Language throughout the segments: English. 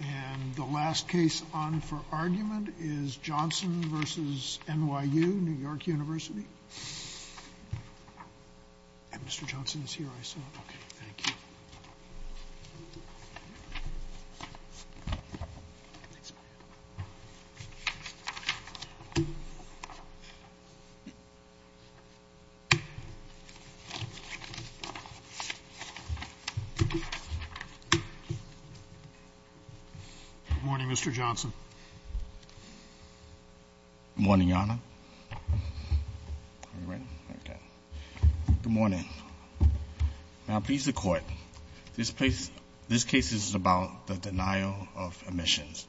And the last case on for argument is Johnson v. NYU, New York University Good morning Mr. Johnson. Good morning Your Honor. Now please the court. This case is about the denial of admissions.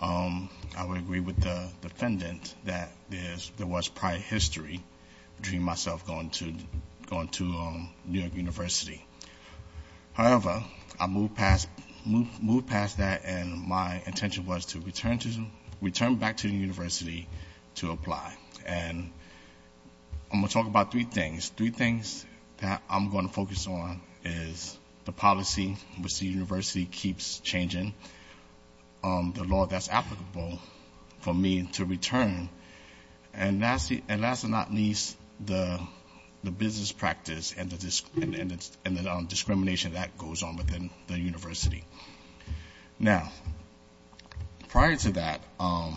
I would agree with the defendant that there was prior history between myself going to New York University. However, I moved past that and my intention was to return back to the university to apply. And I'm going to talk about three things. Three things that I'm going to focus on is the policy, which the university keeps changing, the law that's applicable for me to return, and last but not least, the business practice and the discrimination that goes on within the university. Now, prior to that, I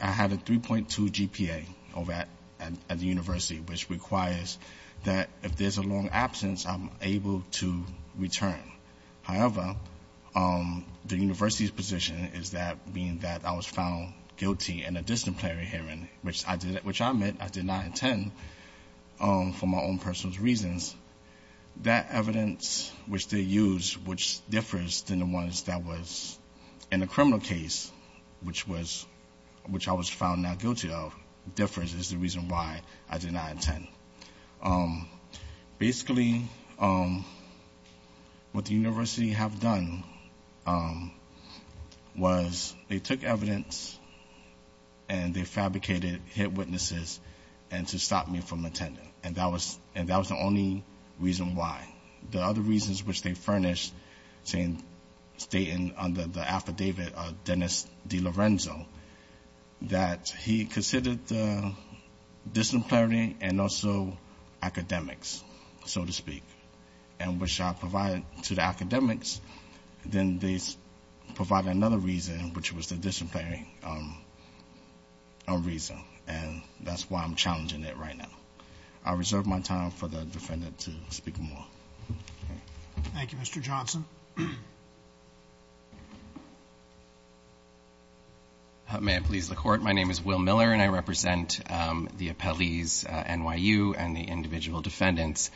had a 3.2 GPA over at the university, which requires that if there's a long absence, I'm able to apply. However, the university's position is that being that I was found guilty in a disciplinary hearing, which I admit I did not intend for my own personal reasons. That evidence which they used, which differs than the ones that was in the criminal case, which I was found not guilty of, differs is the reason why I did not intend. Basically, what the university have done was they took evidence and they fabricated hit witnesses to stop me from attending. And that was the only reason why. The other reasons which they furnished state under the affidavit of Dennis DeLorenzo that he considered disciplinary and also academics, so to speak, and which I provided to the academics, then they provided another reason, which was the disciplinary reason. And that's why I'm challenging it right now. I reserve my time for the defendant to speak more. Thank you, Mr. Johnson. May it please the Court. My name is Will Miller, and I represent the appellees, NYU, and the individual defendants.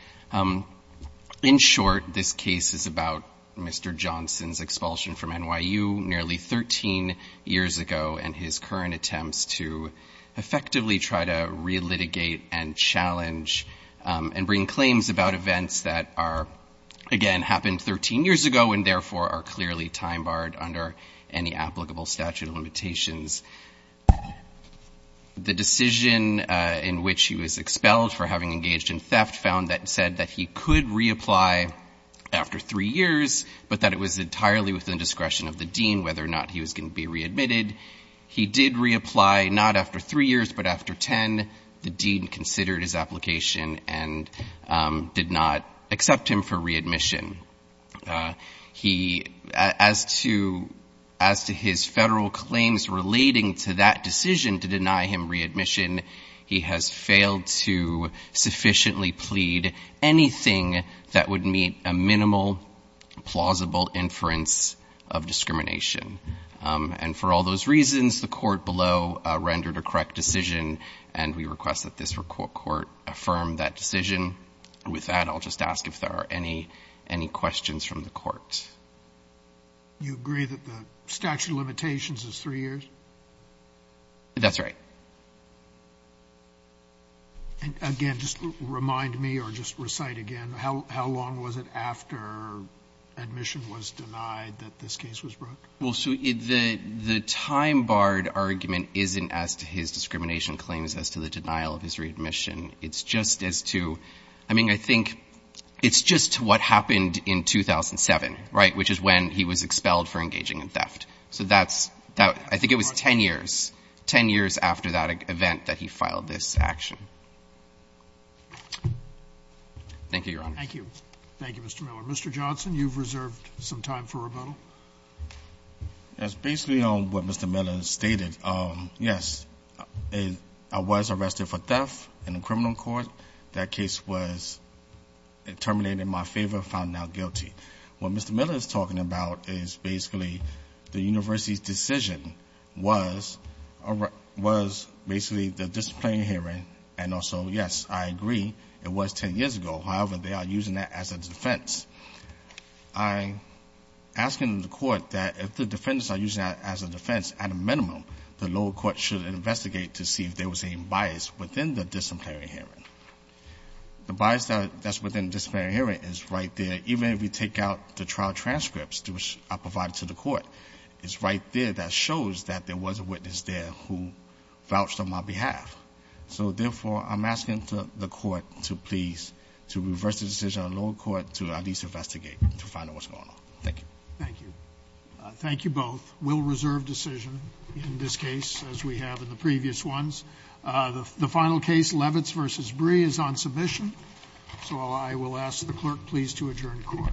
In short, this case is about Mr. Johnson's expulsion from NYU nearly 13 years ago and his current attempts to effectively try to relitigate and challenge and bring claims about events that are, again, happened 13 years ago and therefore are clearly time-barred under any applicable statute of limitations. The decision in which he was expelled for having engaged in theft found that it said that he could reapply after three years, but that it was entirely within discretion of the dean whether or not he was going to be readmitted. He did reapply, not after three years, but after 10. The dean considered his application and did not accept him for readmission. As to his federal claims relating to that decision to deny him readmission, he has failed to sufficiently plead anything that would meet a minimal plausible inference of discrimination. And for all those reasons, the Court below rendered a correct decision, and we request that this Court affirm that decision. With that, I'll just ask if there are any questions from the Court. You agree that the statute of limitations is three years? That's right. And again, just remind me or just recite again, how long was it after admission was denied that this case was brought? Well, so the time-barred argument isn't as to his discrimination claims as to the denial of his readmission. It's just as to, I mean, I think it's just to what happened in 2007, right, which is when he was expelled for engaging in theft. So that's, I think it was 10 years, 10 years after that event that he filed this action. Thank you, Your Honors. Thank you. Thank you, Mr. Miller. Mr. Johnson, you've reserved some time for rebuttal. Yes, basically on what Mr. Miller stated, yes, I was arrested for theft in a criminal court. That case was terminated in my favor, found now guilty. What Mr. Miller is talking about is basically the university's decision was basically the disciplinary hearing, and also, yes, I agree, it was 10 years ago. However, they are using that as a defense. I'm asking the court that if the defendants are using that as a defense, at a minimum, the lower court should investigate to see if there was any bias within the disciplinary hearing. The bias that's within the disciplinary hearing is right there, even if you take out the trial transcripts, which I provided to the court, it's right there that shows that there was a witness there who was there. So I'm asking the court to please, to reverse the decision on the lower court to at least investigate to find out what's going on. Thank you. Thank you. Thank you both. We'll reserve decision in this case, as we have in the previous ones. The final case, Levitz v. Bree, is on submission, so I will ask the clerk please to adjourn the court. Thank you. Thank you.